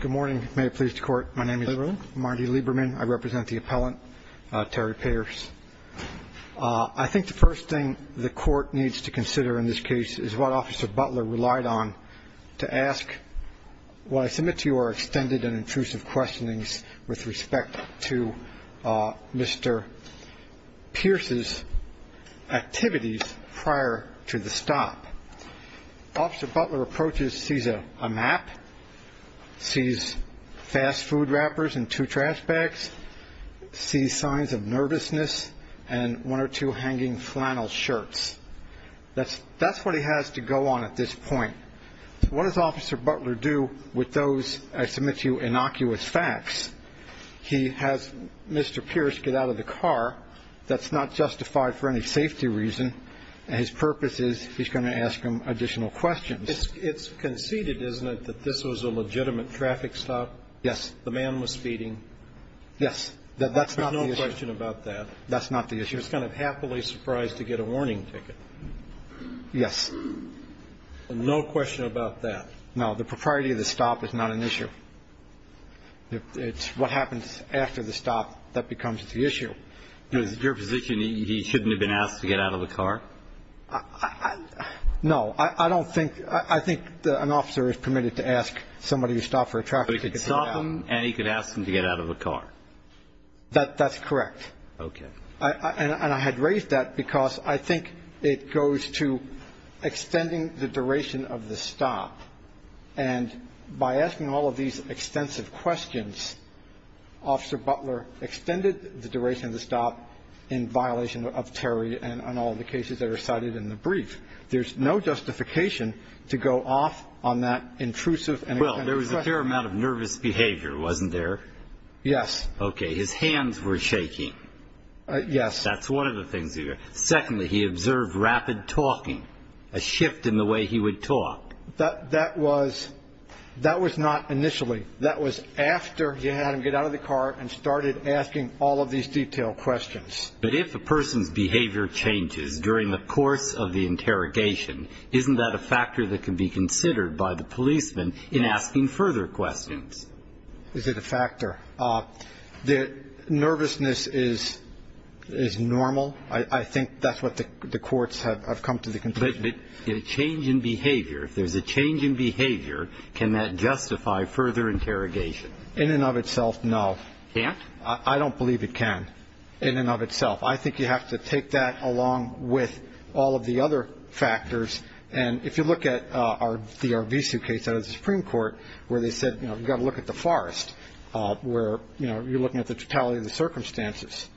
Good morning. May it please the Court. My name is Marty Lieberman. I represent the appellant, Terry Pierce. I think the first thing the Court needs to consider in this case is what Officer Butler relied on to ask what I submit to you are extended and intrusive questionings with respect to Mr. Pierce's activities prior to the stop. Officer Butler approaches, sees a map, sees fast food wrappers and two trash bags, sees signs of nervousness and one or two hanging flannel shirts. That's what he has to go on at this point. What does Officer Butler do with those, I submit to you, innocuous facts? He has Mr. Pierce get out of the car. That's not justified for any safety reason. His purpose is he's going to ask him additional questions. It's conceded, isn't it, that this was a legitimate traffic stop? Yes. The man was speeding. Yes. There's no question about that. That's not the issue. He was kind of happily surprised to get a warning ticket. Yes. No question about that. No. The propriety of the stop is not an issue. It's what happens after the stop that becomes the issue. Is it your position he shouldn't have been asked to get out of the car? No. I don't think, I think an officer is permitted to ask somebody who stopped for a traffic ticket to get out. But he could stop him and he could ask him to get out of the car. That's correct. Okay. And I had raised that because I think it goes to extending the duration of the stop. And by asking all of these extensive questions, Officer Butler extended the duration of the stop in violation of Terry and all of the cases that are cited in the brief. There's no justification to go off on that intrusive. Well, there was a fair amount of nervous behavior, wasn't there? Yes. Okay. His hands were shaking. Yes. That's one of the things. Secondly, he observed rapid talking, a shift in the way he would talk. That was not initially. That was after he had him get out of the car and started asking all of these detailed questions. But if a person's behavior changes during the course of the interrogation, isn't that a factor that can be considered by the policeman in asking further questions? Is it a factor? The nervousness is normal. I think that's what the courts have come to the conclusion. But a change in behavior, if there's a change in behavior, can that justify further interrogation? In and of itself, no. Can't? I don't believe it can in and of itself. I think you have to take that along with all of the other factors. And if you look at the Arvizu case out of the Supreme Court, where they said, you know, you've got to look at the forest, where, you know, you're looking at the totality of the circumstances.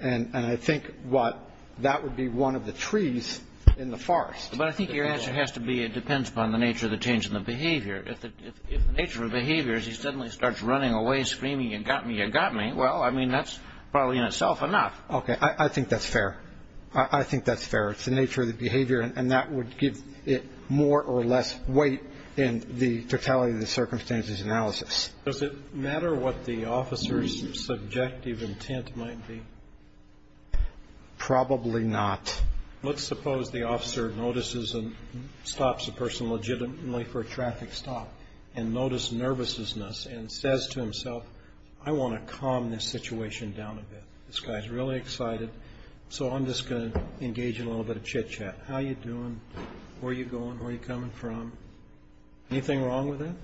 And I think that would be one of the trees in the forest. But I think your answer has to be it depends upon the nature of the change in the behavior. If the nature of the behavior is he suddenly starts running away, screaming, you got me, you got me, well, I mean, that's probably in itself enough. Okay. I think that's fair. I think that's fair. It's the nature of the behavior. And that would give it more or less weight in the totality of the circumstances analysis. Does it matter what the officer's subjective intent might be? Probably not. Let's suppose the officer notices and stops a person legitimately for a traffic stop and notice nervousness and says to himself, I want to calm this situation down a bit. This guy's really excited. So I'm just going to engage in a little bit of chitchat. How are you doing? Where are you going? Where are you coming from? Anything wrong with that?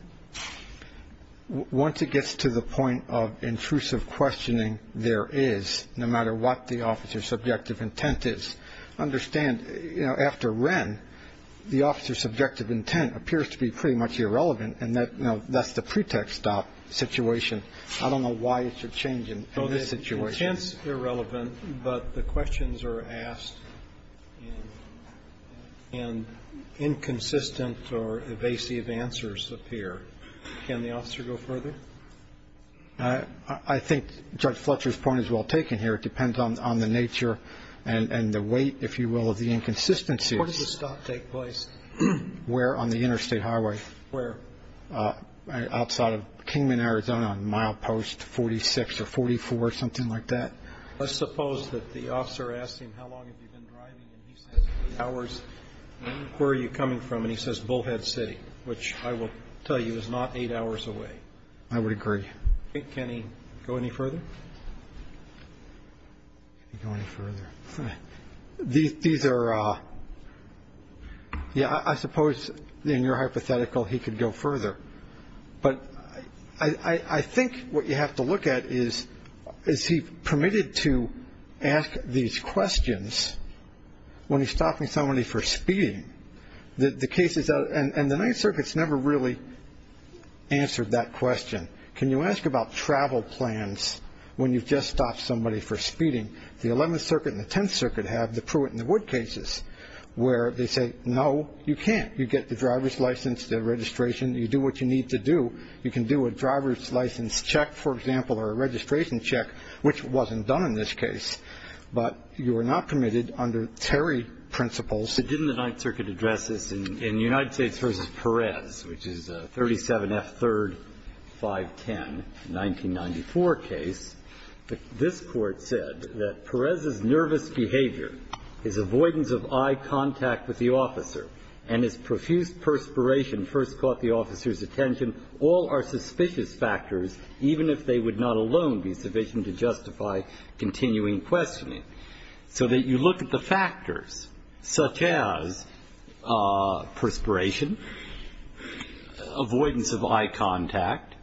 Once it gets to the point of intrusive questioning there is, no matter what the officer's subjective intent is, understand, you know, after Wren, the officer's subjective intent appears to be pretty much irrelevant, and that's the pretext stop situation. I don't know why it should change in this situation. Intense, irrelevant, but the questions are asked and inconsistent or evasive answers appear. Can the officer go further? I think Judge Fletcher's point is well taken here. It depends on the nature and the weight, if you will, of the inconsistencies. Where does the stop take place? Where? On the interstate highway. Where? Outside of Kingman, Arizona, on mile post 46 or 44, something like that. Let's suppose that the officer asks him how long have you been driving, and he says eight hours. Where are you coming from? And he says Bullhead City, which I will tell you is not eight hours away. I would agree. Can he go any further? These are. Yeah, I suppose in your hypothetical he could go further. But I think what you have to look at is, is he permitted to ask these questions when he's stopping somebody for speeding? The case is and the Ninth Circuit's never really answered that question. Can you ask about travel plans when you've just stopped somebody for speeding? The Eleventh Circuit and the Tenth Circuit have the Pruitt and the Wood cases where they say no, you can't. You get the driver's license, the registration. You do what you need to do. You can do a driver's license check, for example, or a registration check, which wasn't done in this case. But you are not permitted under Terry principles. Didn't the Ninth Circuit address this in United States v. Perez, which is 37F3-510, the 1994 case, that this Court said that Perez's nervous behavior, his avoidance of eye contact with the officer, and his profuse perspiration first caught the officer's attention, all are suspicious factors, even if they would not alone be sufficient to justify continuing questioning. So that you look at the factors such as perspiration, avoidance of eye contact,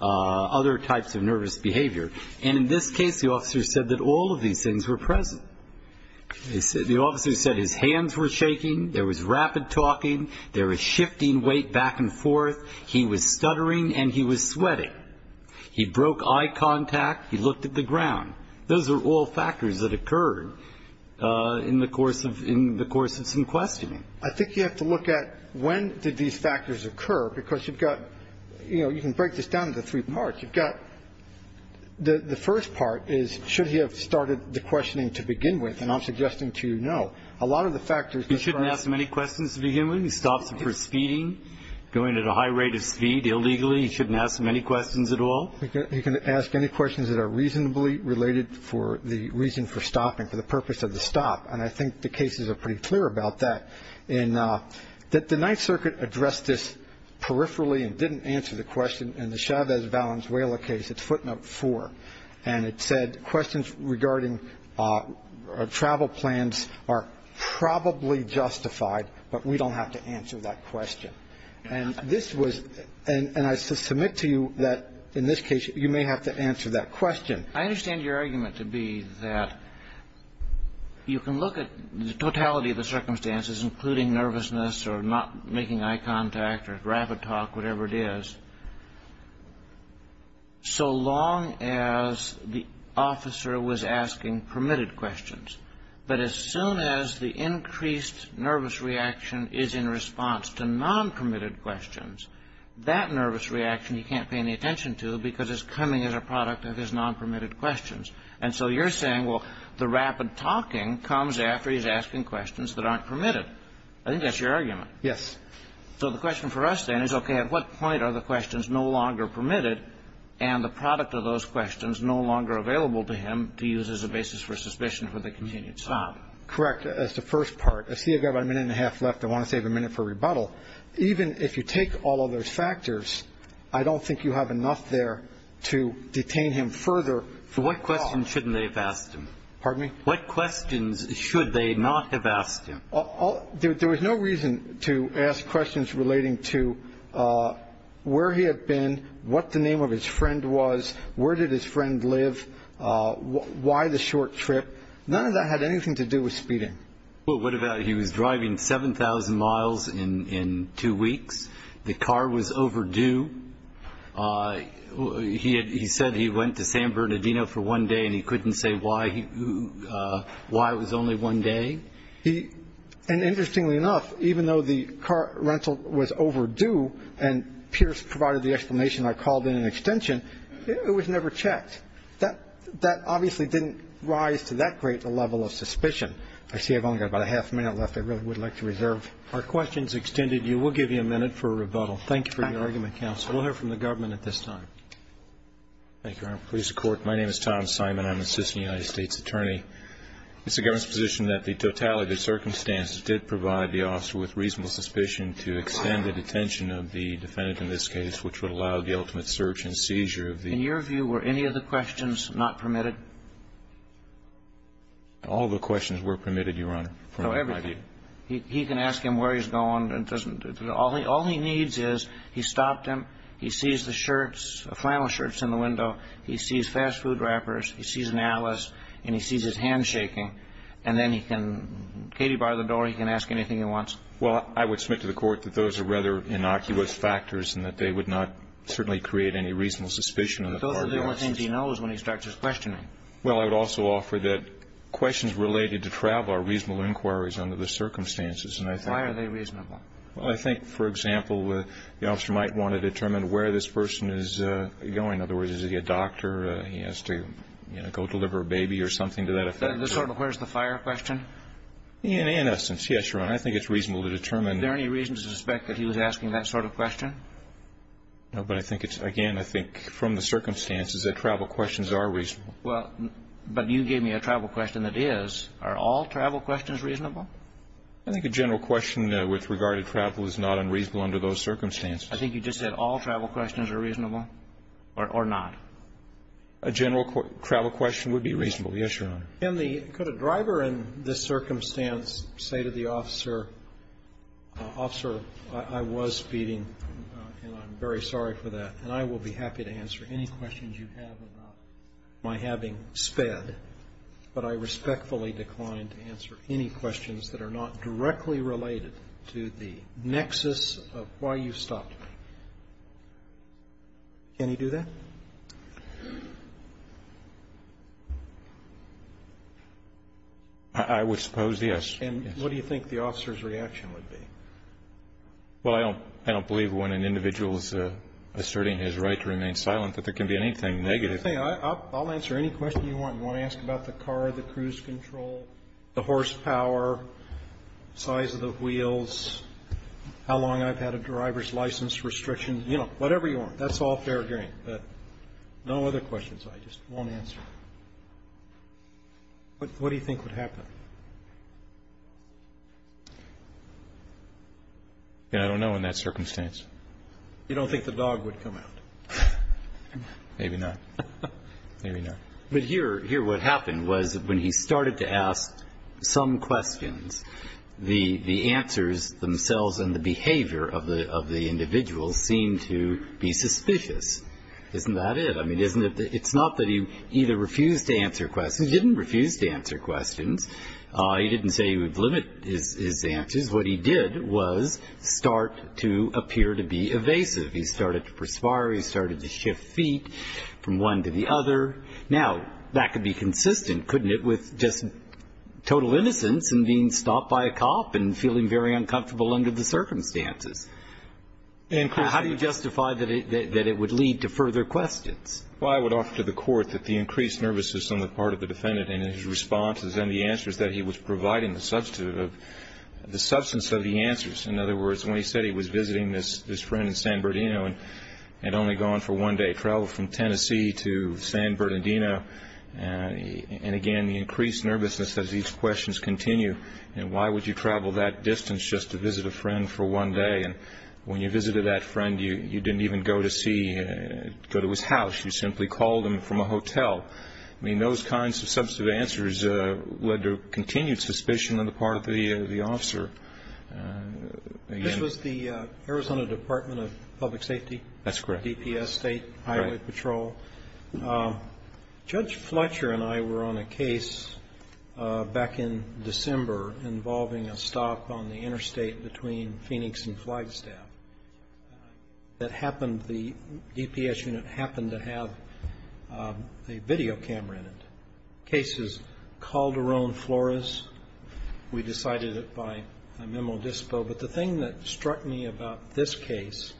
other types of nervous behavior. And in this case, the officer said that all of these things were present. The officer said his hands were shaking. There was rapid talking. There was shifting weight back and forth. He was stuttering and he was sweating. He broke eye contact. He looked at the ground. Those are all factors that occurred in the course of some questioning. I think you have to look at when did these factors occur, because you've got, you know, let's break this down into three parts. You've got the first part is should he have started the questioning to begin with. And I'm suggesting to you, no. A lot of the factors that occur. He shouldn't ask many questions to begin with. He stops for speeding, going at a high rate of speed illegally. He shouldn't ask many questions at all. He can ask any questions that are reasonably related for the reason for stopping, for the purpose of the stop. And I think the cases are pretty clear about that. And that the Ninth Circuit addressed this peripherally and didn't answer the question in the Chavez-Valenzuela case. It's footnote four. And it said questions regarding travel plans are probably justified, but we don't have to answer that question. And this was and I submit to you that in this case you may have to answer that question. I understand your argument to be that you can look at the totality of the circumstances, including nervousness or not making eye contact or rapid talk, whatever it is, so long as the officer was asking permitted questions. But as soon as the increased nervous reaction is in response to non-permitted questions, that nervous reaction he can't pay any attention to because it's coming as a product of his non-permitted questions. And so you're saying, well, the rapid talking comes after he's asking questions that aren't permitted. I think that's your argument. Yes. So the question for us then is, okay, at what point are the questions no longer permitted and the product of those questions no longer available to him to use as a basis for suspicion for the continued stop? Correct. That's the first part. I see I've got about a minute and a half left. I want to save a minute for rebuttal. Even if you take all of those factors, I don't think you have enough there to detain him further. So what questions shouldn't they have asked him? Pardon me? What questions should they not have asked him? There was no reason to ask questions relating to where he had been, what the name of his friend was, where did his friend live, why the short trip. None of that had anything to do with speeding. Well, what about he was driving 7,000 miles in two weeks. The car was overdue. He said he went to San Bernardino for one day and he couldn't say why it was only one day. And interestingly enough, even though the car rental was overdue and Pierce provided the explanation I called in an extension, it was never checked. That obviously didn't rise to that great a level of suspicion. I see I've only got about a half a minute left I really would like to reserve. Our questions extended you. We'll give you a minute for rebuttal. Thank you for your argument, counsel. We'll hear from the government at this time. Thank you, Your Honor. Police and court, my name is Tom Simon. I'm an assistant United States attorney. It's the government's position that the totality of the circumstances did provide the officer with reasonable suspicion to extend the detention of the defendant in this case, which would allow the ultimate search and seizure of the ---- In your view, were any of the questions not permitted? All of the questions were permitted, Your Honor. So everything. He can ask him where he's going. All he needs is he stopped him, he sees the shirts, flannel shirts in the window, he sees fast food wrappers, he sees an atlas, and he sees his hand shaking, and then he can get him by the door, he can ask anything he wants. Well, I would submit to the court that those are rather innocuous factors and that they would not certainly create any reasonable suspicion on the part of the officer. That means he knows when he starts his questioning. Well, I would also offer that questions related to travel are reasonable inquiries under the circumstances. Why are they reasonable? Well, I think, for example, the officer might want to determine where this person is going. In other words, is he a doctor? He has to, you know, go deliver a baby or something to that effect. The sort of where's the fire question? In essence, yes, Your Honor. I think it's reasonable to determine. Is there any reason to suspect that he was asking that sort of question? No, but I think it's, again, I think from the circumstances that travel questions are reasonable. Well, but you gave me a travel question that is. Are all travel questions reasonable? I think a general question with regard to travel is not unreasonable under those circumstances. I think you just said all travel questions are reasonable or not. A general travel question would be reasonable, yes, Your Honor. Can the, could a driver in this circumstance say to the officer, officer, I was speeding, and I'm very sorry for that. And I will be happy to answer any questions you have about my having sped. But I respectfully decline to answer any questions that are not directly related to the nexus of why you stopped me. Can he do that? I would suppose, yes. And what do you think the officer's reaction would be? Well, I don't believe when an individual is asserting his right to remain silent that there can be anything negative. I'll answer any question you want. You want to ask about the car, the cruise control, the horsepower, size of the wheels, how long I've had a driver's license restriction. You know, whatever you want. That's all fair game. But no other questions. I just won't answer. What do you think would happen? I don't know in that circumstance. You don't think the dog would come out? Maybe not. Maybe not. But here what happened was when he started to ask some questions, the answers themselves and the behavior of the individual seemed to be suspicious. Isn't that it? I mean, it's not that he either refused to answer questions. He didn't refuse to answer questions. He didn't say he would limit his answers. What he did was start to appear to be evasive. He started to perspire. He started to shift feet from one to the other. Now, that could be consistent, couldn't it, with just total innocence and being stopped by a cop and feeling very uncomfortable under the circumstances? How do you justify that it would lead to further questions? Well, I would offer to the court that the increased nervousness on the part of the defendant and his responses and the answers that he was providing, the substance of the answers. In other words, when he said he was visiting this friend in San Bernardino and had only gone for one day, traveled from Tennessee to San Bernardino, and, again, the increased nervousness as these questions continue. Why would you travel that distance just to visit a friend for one day? When you visited that friend, you didn't even go to see, go to his house. You simply called him from a hotel. I mean, those kinds of substantive answers led to continued suspicion on the part of the officer. This was the Arizona Department of Public Safety? That's correct. Highway Patrol. Judge Fletcher and I were on a case back in December involving a stop on the interstate between Phoenix and Flagstaff. That happened, the DPS unit happened to have a video camera in it. The case is Calderon Flores. We decided it by a memo dispo. But the thing that struck me about this case,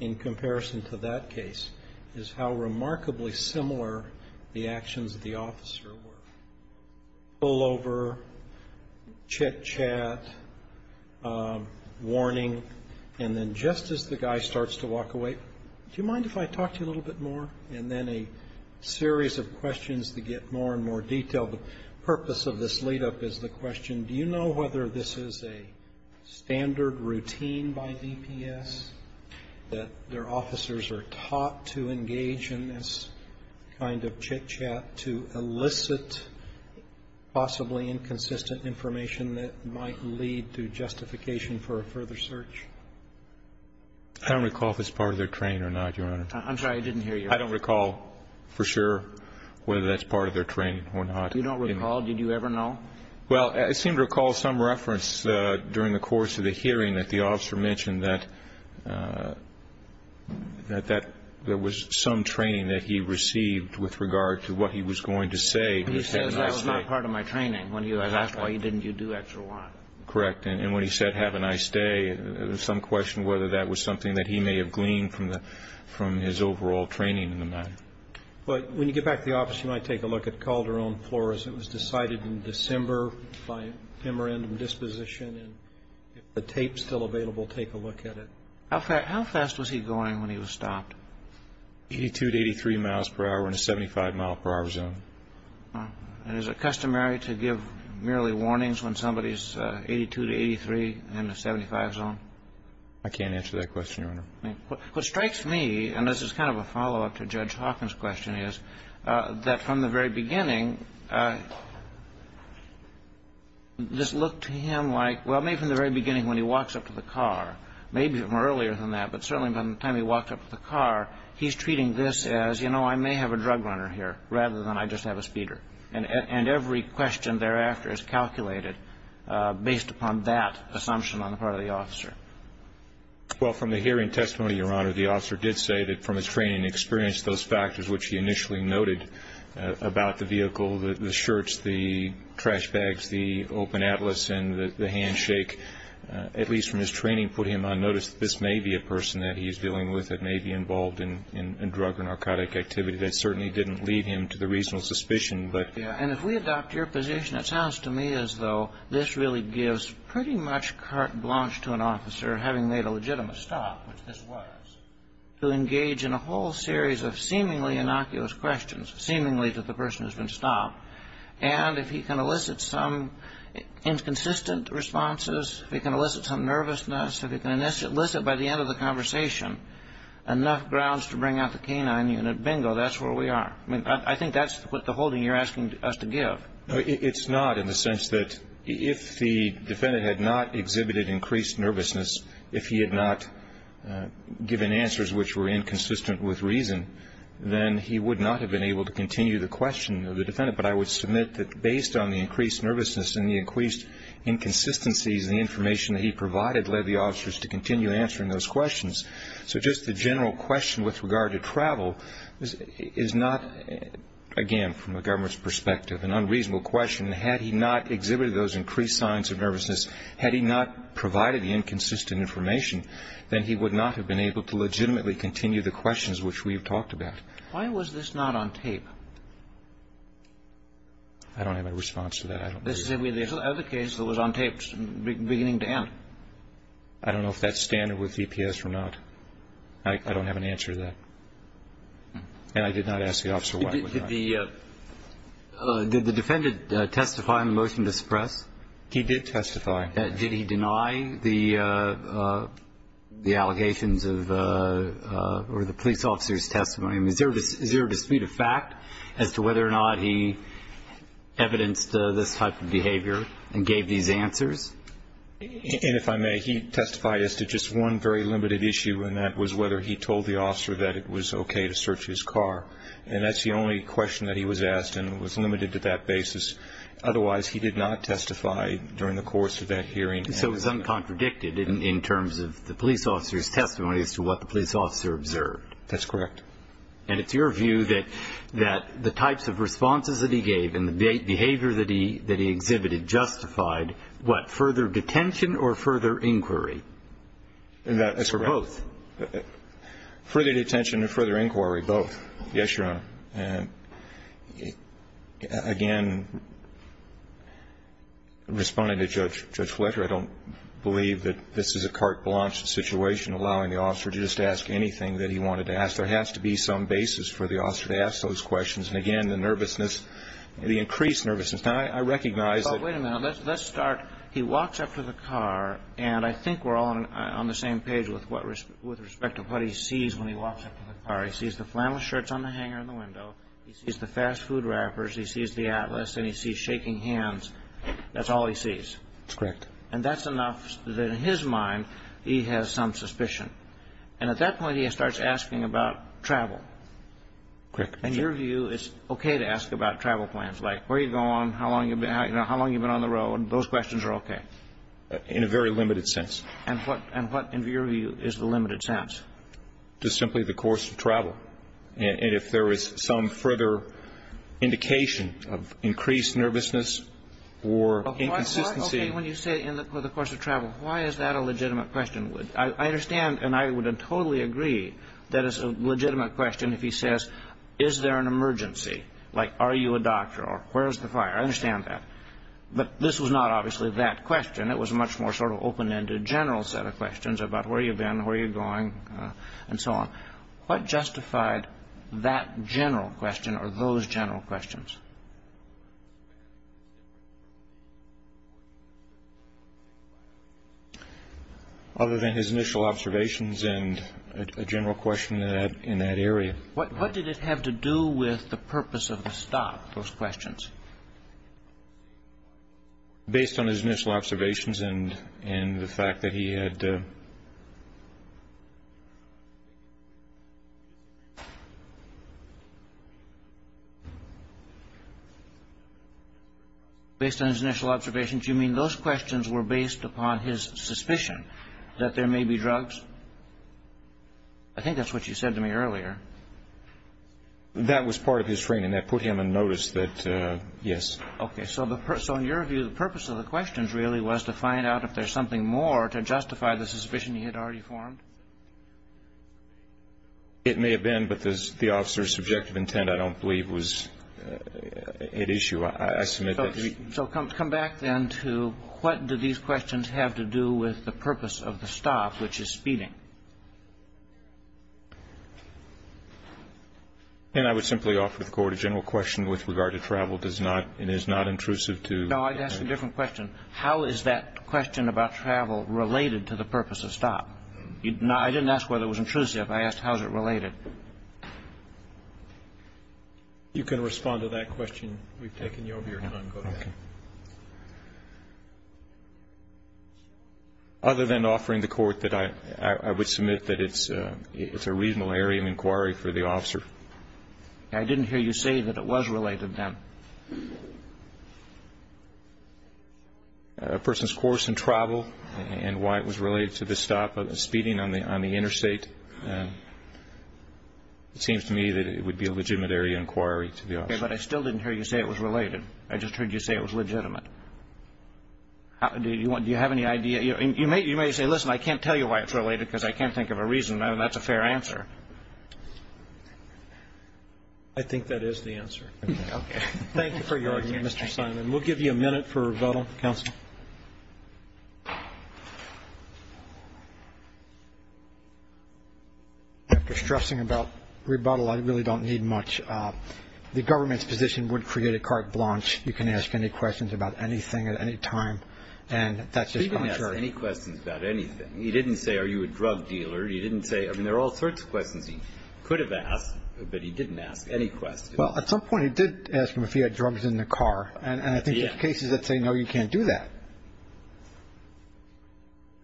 in comparison to that case, is how remarkably similar the actions of the officer were. Pullover, chit-chat, warning, and then just as the guy starts to walk away, do you mind if I talk to you a little bit more? And then a series of questions that get more and more detailed. The purpose of this lead-up is the question, do you know whether this is a standard routine by DPS that their officers are taught to engage in this kind of chit-chat to elicit possibly inconsistent information that might lead to justification for a further search? I don't recall if it's part of their training or not, Your Honor. I'm sorry, I didn't hear you. I don't recall for sure whether that's part of their training or not. You don't recall? Did you ever know? Well, I seem to recall some reference during the course of the hearing that the officer mentioned that there was some training that he received with regard to what he was going to say. He says that was not part of my training. When he was asked why didn't you do X or Y. Correct. And when he said have a nice day, there's some question whether that was something that he may have gleaned from his overall training in the matter. Well, when you get back to the office, you might take a look at Calderon Flores. It was decided in December by memorandum disposition. And if the tape is still available, take a look at it. How fast was he going when he was stopped? 82 to 83 miles per hour in a 75-mile-per-hour zone. And is it customary to give merely warnings when somebody is 82 to 83 in a 75 zone? I can't answer that question, Your Honor. What strikes me, and this is kind of a follow-up to Judge Hawkins' question is, that from the very beginning this looked to him like, well, maybe from the very beginning when he walks up to the car, maybe even earlier than that, but certainly by the time he walked up to the car, he's treating this as, you know, I may have a drug runner here rather than I just have a speeder. And every question thereafter is calculated based upon that assumption on the part of the officer. Well, from the hearing testimony, Your Honor, the officer did say that from his training and experience those factors which he initially noted about the vehicle, the shirts, the trash bags, the open atlas and the handshake, at least from his training put him on notice that this may be a person that he is dealing with that may be involved in drug or narcotic activity. That certainly didn't lead him to the reasonable suspicion. And if we adopt your position, it sounds to me as though this really gives pretty much carte blanche to an officer having made a legitimate stop, which this was, to engage in a whole series of seemingly innocuous questions, seemingly that the person has been stopped. And if he can elicit some inconsistent responses, if he can elicit some nervousness, if he can elicit by the end of the conversation enough grounds to bring out the canine unit, bingo, that's where we are. I mean, I think that's what the holding you're asking us to give. It's not in the sense that if the defendant had not exhibited increased nervousness, if he had not given answers which were inconsistent with reason, then he would not have been able to continue the question of the defendant. But I would submit that based on the increased nervousness and the increased inconsistencies, the information that he provided led the officers to continue answering those questions. So just the general question with regard to travel is not, again, from the government's perspective, an unreasonable question. Had he not exhibited those increased signs of nervousness, had he not provided the inconsistent information, then he would not have been able to legitimately continue the questions which we've talked about. Why was this not on tape? I don't have a response to that. This is the only other case that was on tape beginning to end. I don't know if that's standard with DPS or not. I don't have an answer to that. And I did not ask the officer why. Did the defendant testify in the motion to suppress? He did testify. Did he deny the allegations or the police officer's testimony? Is there a dispute of fact as to whether or not he evidenced this type of behavior and gave these answers? And if I may, he testified as to just one very limited issue, and that was whether he told the officer that it was okay to search his car. And that's the only question that he was asked, and it was limited to that basis. Otherwise, he did not testify during the course of that hearing. So it was uncontradicted in terms of the police officer's testimony as to what the police officer observed. That's correct. And it's your view that the types of responses that he gave and the behavior that he exhibited justified what, further detention or further inquiry? That's correct. Or both? Further detention or further inquiry, both. Yes, Your Honor. Again, responding to Judge Fletcher, I don't believe that this is a carte blanche situation allowing the officer to just ask anything that he wanted to ask. There has to be some basis for the officer to ask those questions. And again, the nervousness, the increased nervousness. Now, I recognize that- Wait a minute. Let's start. He walks up to the car, and I think we're all on the same page with respect to what he sees when he walks up to the car. He sees the flannel shirts on the hanger in the window. He sees the fast food wrappers. He sees the Atlas, and he sees shaking hands. That's all he sees. That's correct. And that's enough that in his mind he has some suspicion. And at that point, he starts asking about travel. Correct. In your view, it's okay to ask about travel plans, like where you've gone, how long you've been on the road. Those questions are okay. In a very limited sense. And what, in your view, is the limited sense? Just simply the course of travel. And if there is some further indication of increased nervousness or inconsistency- Why is it okay when you say in the course of travel? Why is that a legitimate question? I understand, and I would totally agree, that it's a legitimate question if he says, is there an emergency? Like, are you a doctor? Or where's the fire? I understand that. But this was not obviously that question. It was a much more sort of open-ended general set of questions about where you've been, where you're going, and so on. What justified that general question or those general questions? Other than his initial observations and a general question in that area. What did it have to do with the purpose of the stop, those questions? Based on his initial observations and the fact that he had- Based on his initial observations, you mean those questions were based upon his suspicion that there may be drugs? I think that's what you said to me earlier. That was part of his training. That put him in notice that, yes. Okay. So in your view, the purpose of the questions really was to find out if there's something more to justify the suspicion he had of drugs. It may have been, but the officer's subjective intent, I don't believe, was at issue. I submit that- So come back, then, to what do these questions have to do with the purpose of the stop, which is speeding? And I would simply offer the Court a general question with regard to travel. It is not intrusive to- No, I'd ask a different question. How is that question about travel related to the purpose of stop? I didn't ask whether it was intrusive. I asked how is it related. You can respond to that question. We've taken you over your time. Go ahead. Other than offering the Court that I would submit that it's a reasonable area of inquiry for the officer. I didn't hear you say that it was related, then. A person's course and travel and why it was related to the stop of speeding on the interstate, it seems to me that it would be a legitimate area of inquiry to the officer. Okay. But I still didn't hear you say it was related. I just heard you say it was legitimate. Do you have any idea? You may say, listen, I can't tell you why it's related because I can't think of a reason. That's a fair answer. I think that is the answer. Okay. Thank you for your argument, Mr. Simon. We'll give you a minute for rebuttal. Counsel? After stressing about rebuttal, I really don't need much. The government's position would create a carte blanche. You can ask any questions about anything at any time, and that's just contrary. He didn't ask any questions about anything. He didn't say, are you a drug dealer? He didn't say, I mean, there are all sorts of questions he could have asked, but he didn't ask any questions. Well, at some point he did ask him if he had drugs in the car, and I think there's cases that say, no, you can't do that.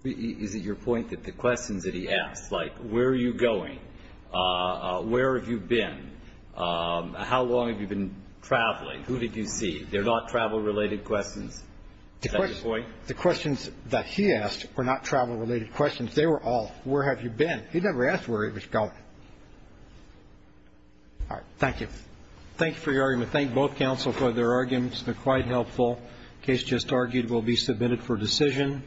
Is it your point that the questions that he asked, like where are you going, where have you been, how long have you been traveling, who did you see, they're not travel-related questions? Is that your point? The questions that he asked were not travel-related questions. They were all, where have you been? He never asked where he was going. All right. Thank you. Thank you for your argument. Thank both counsel for their arguments. They're quite helpful. The case just argued will be submitted for decision.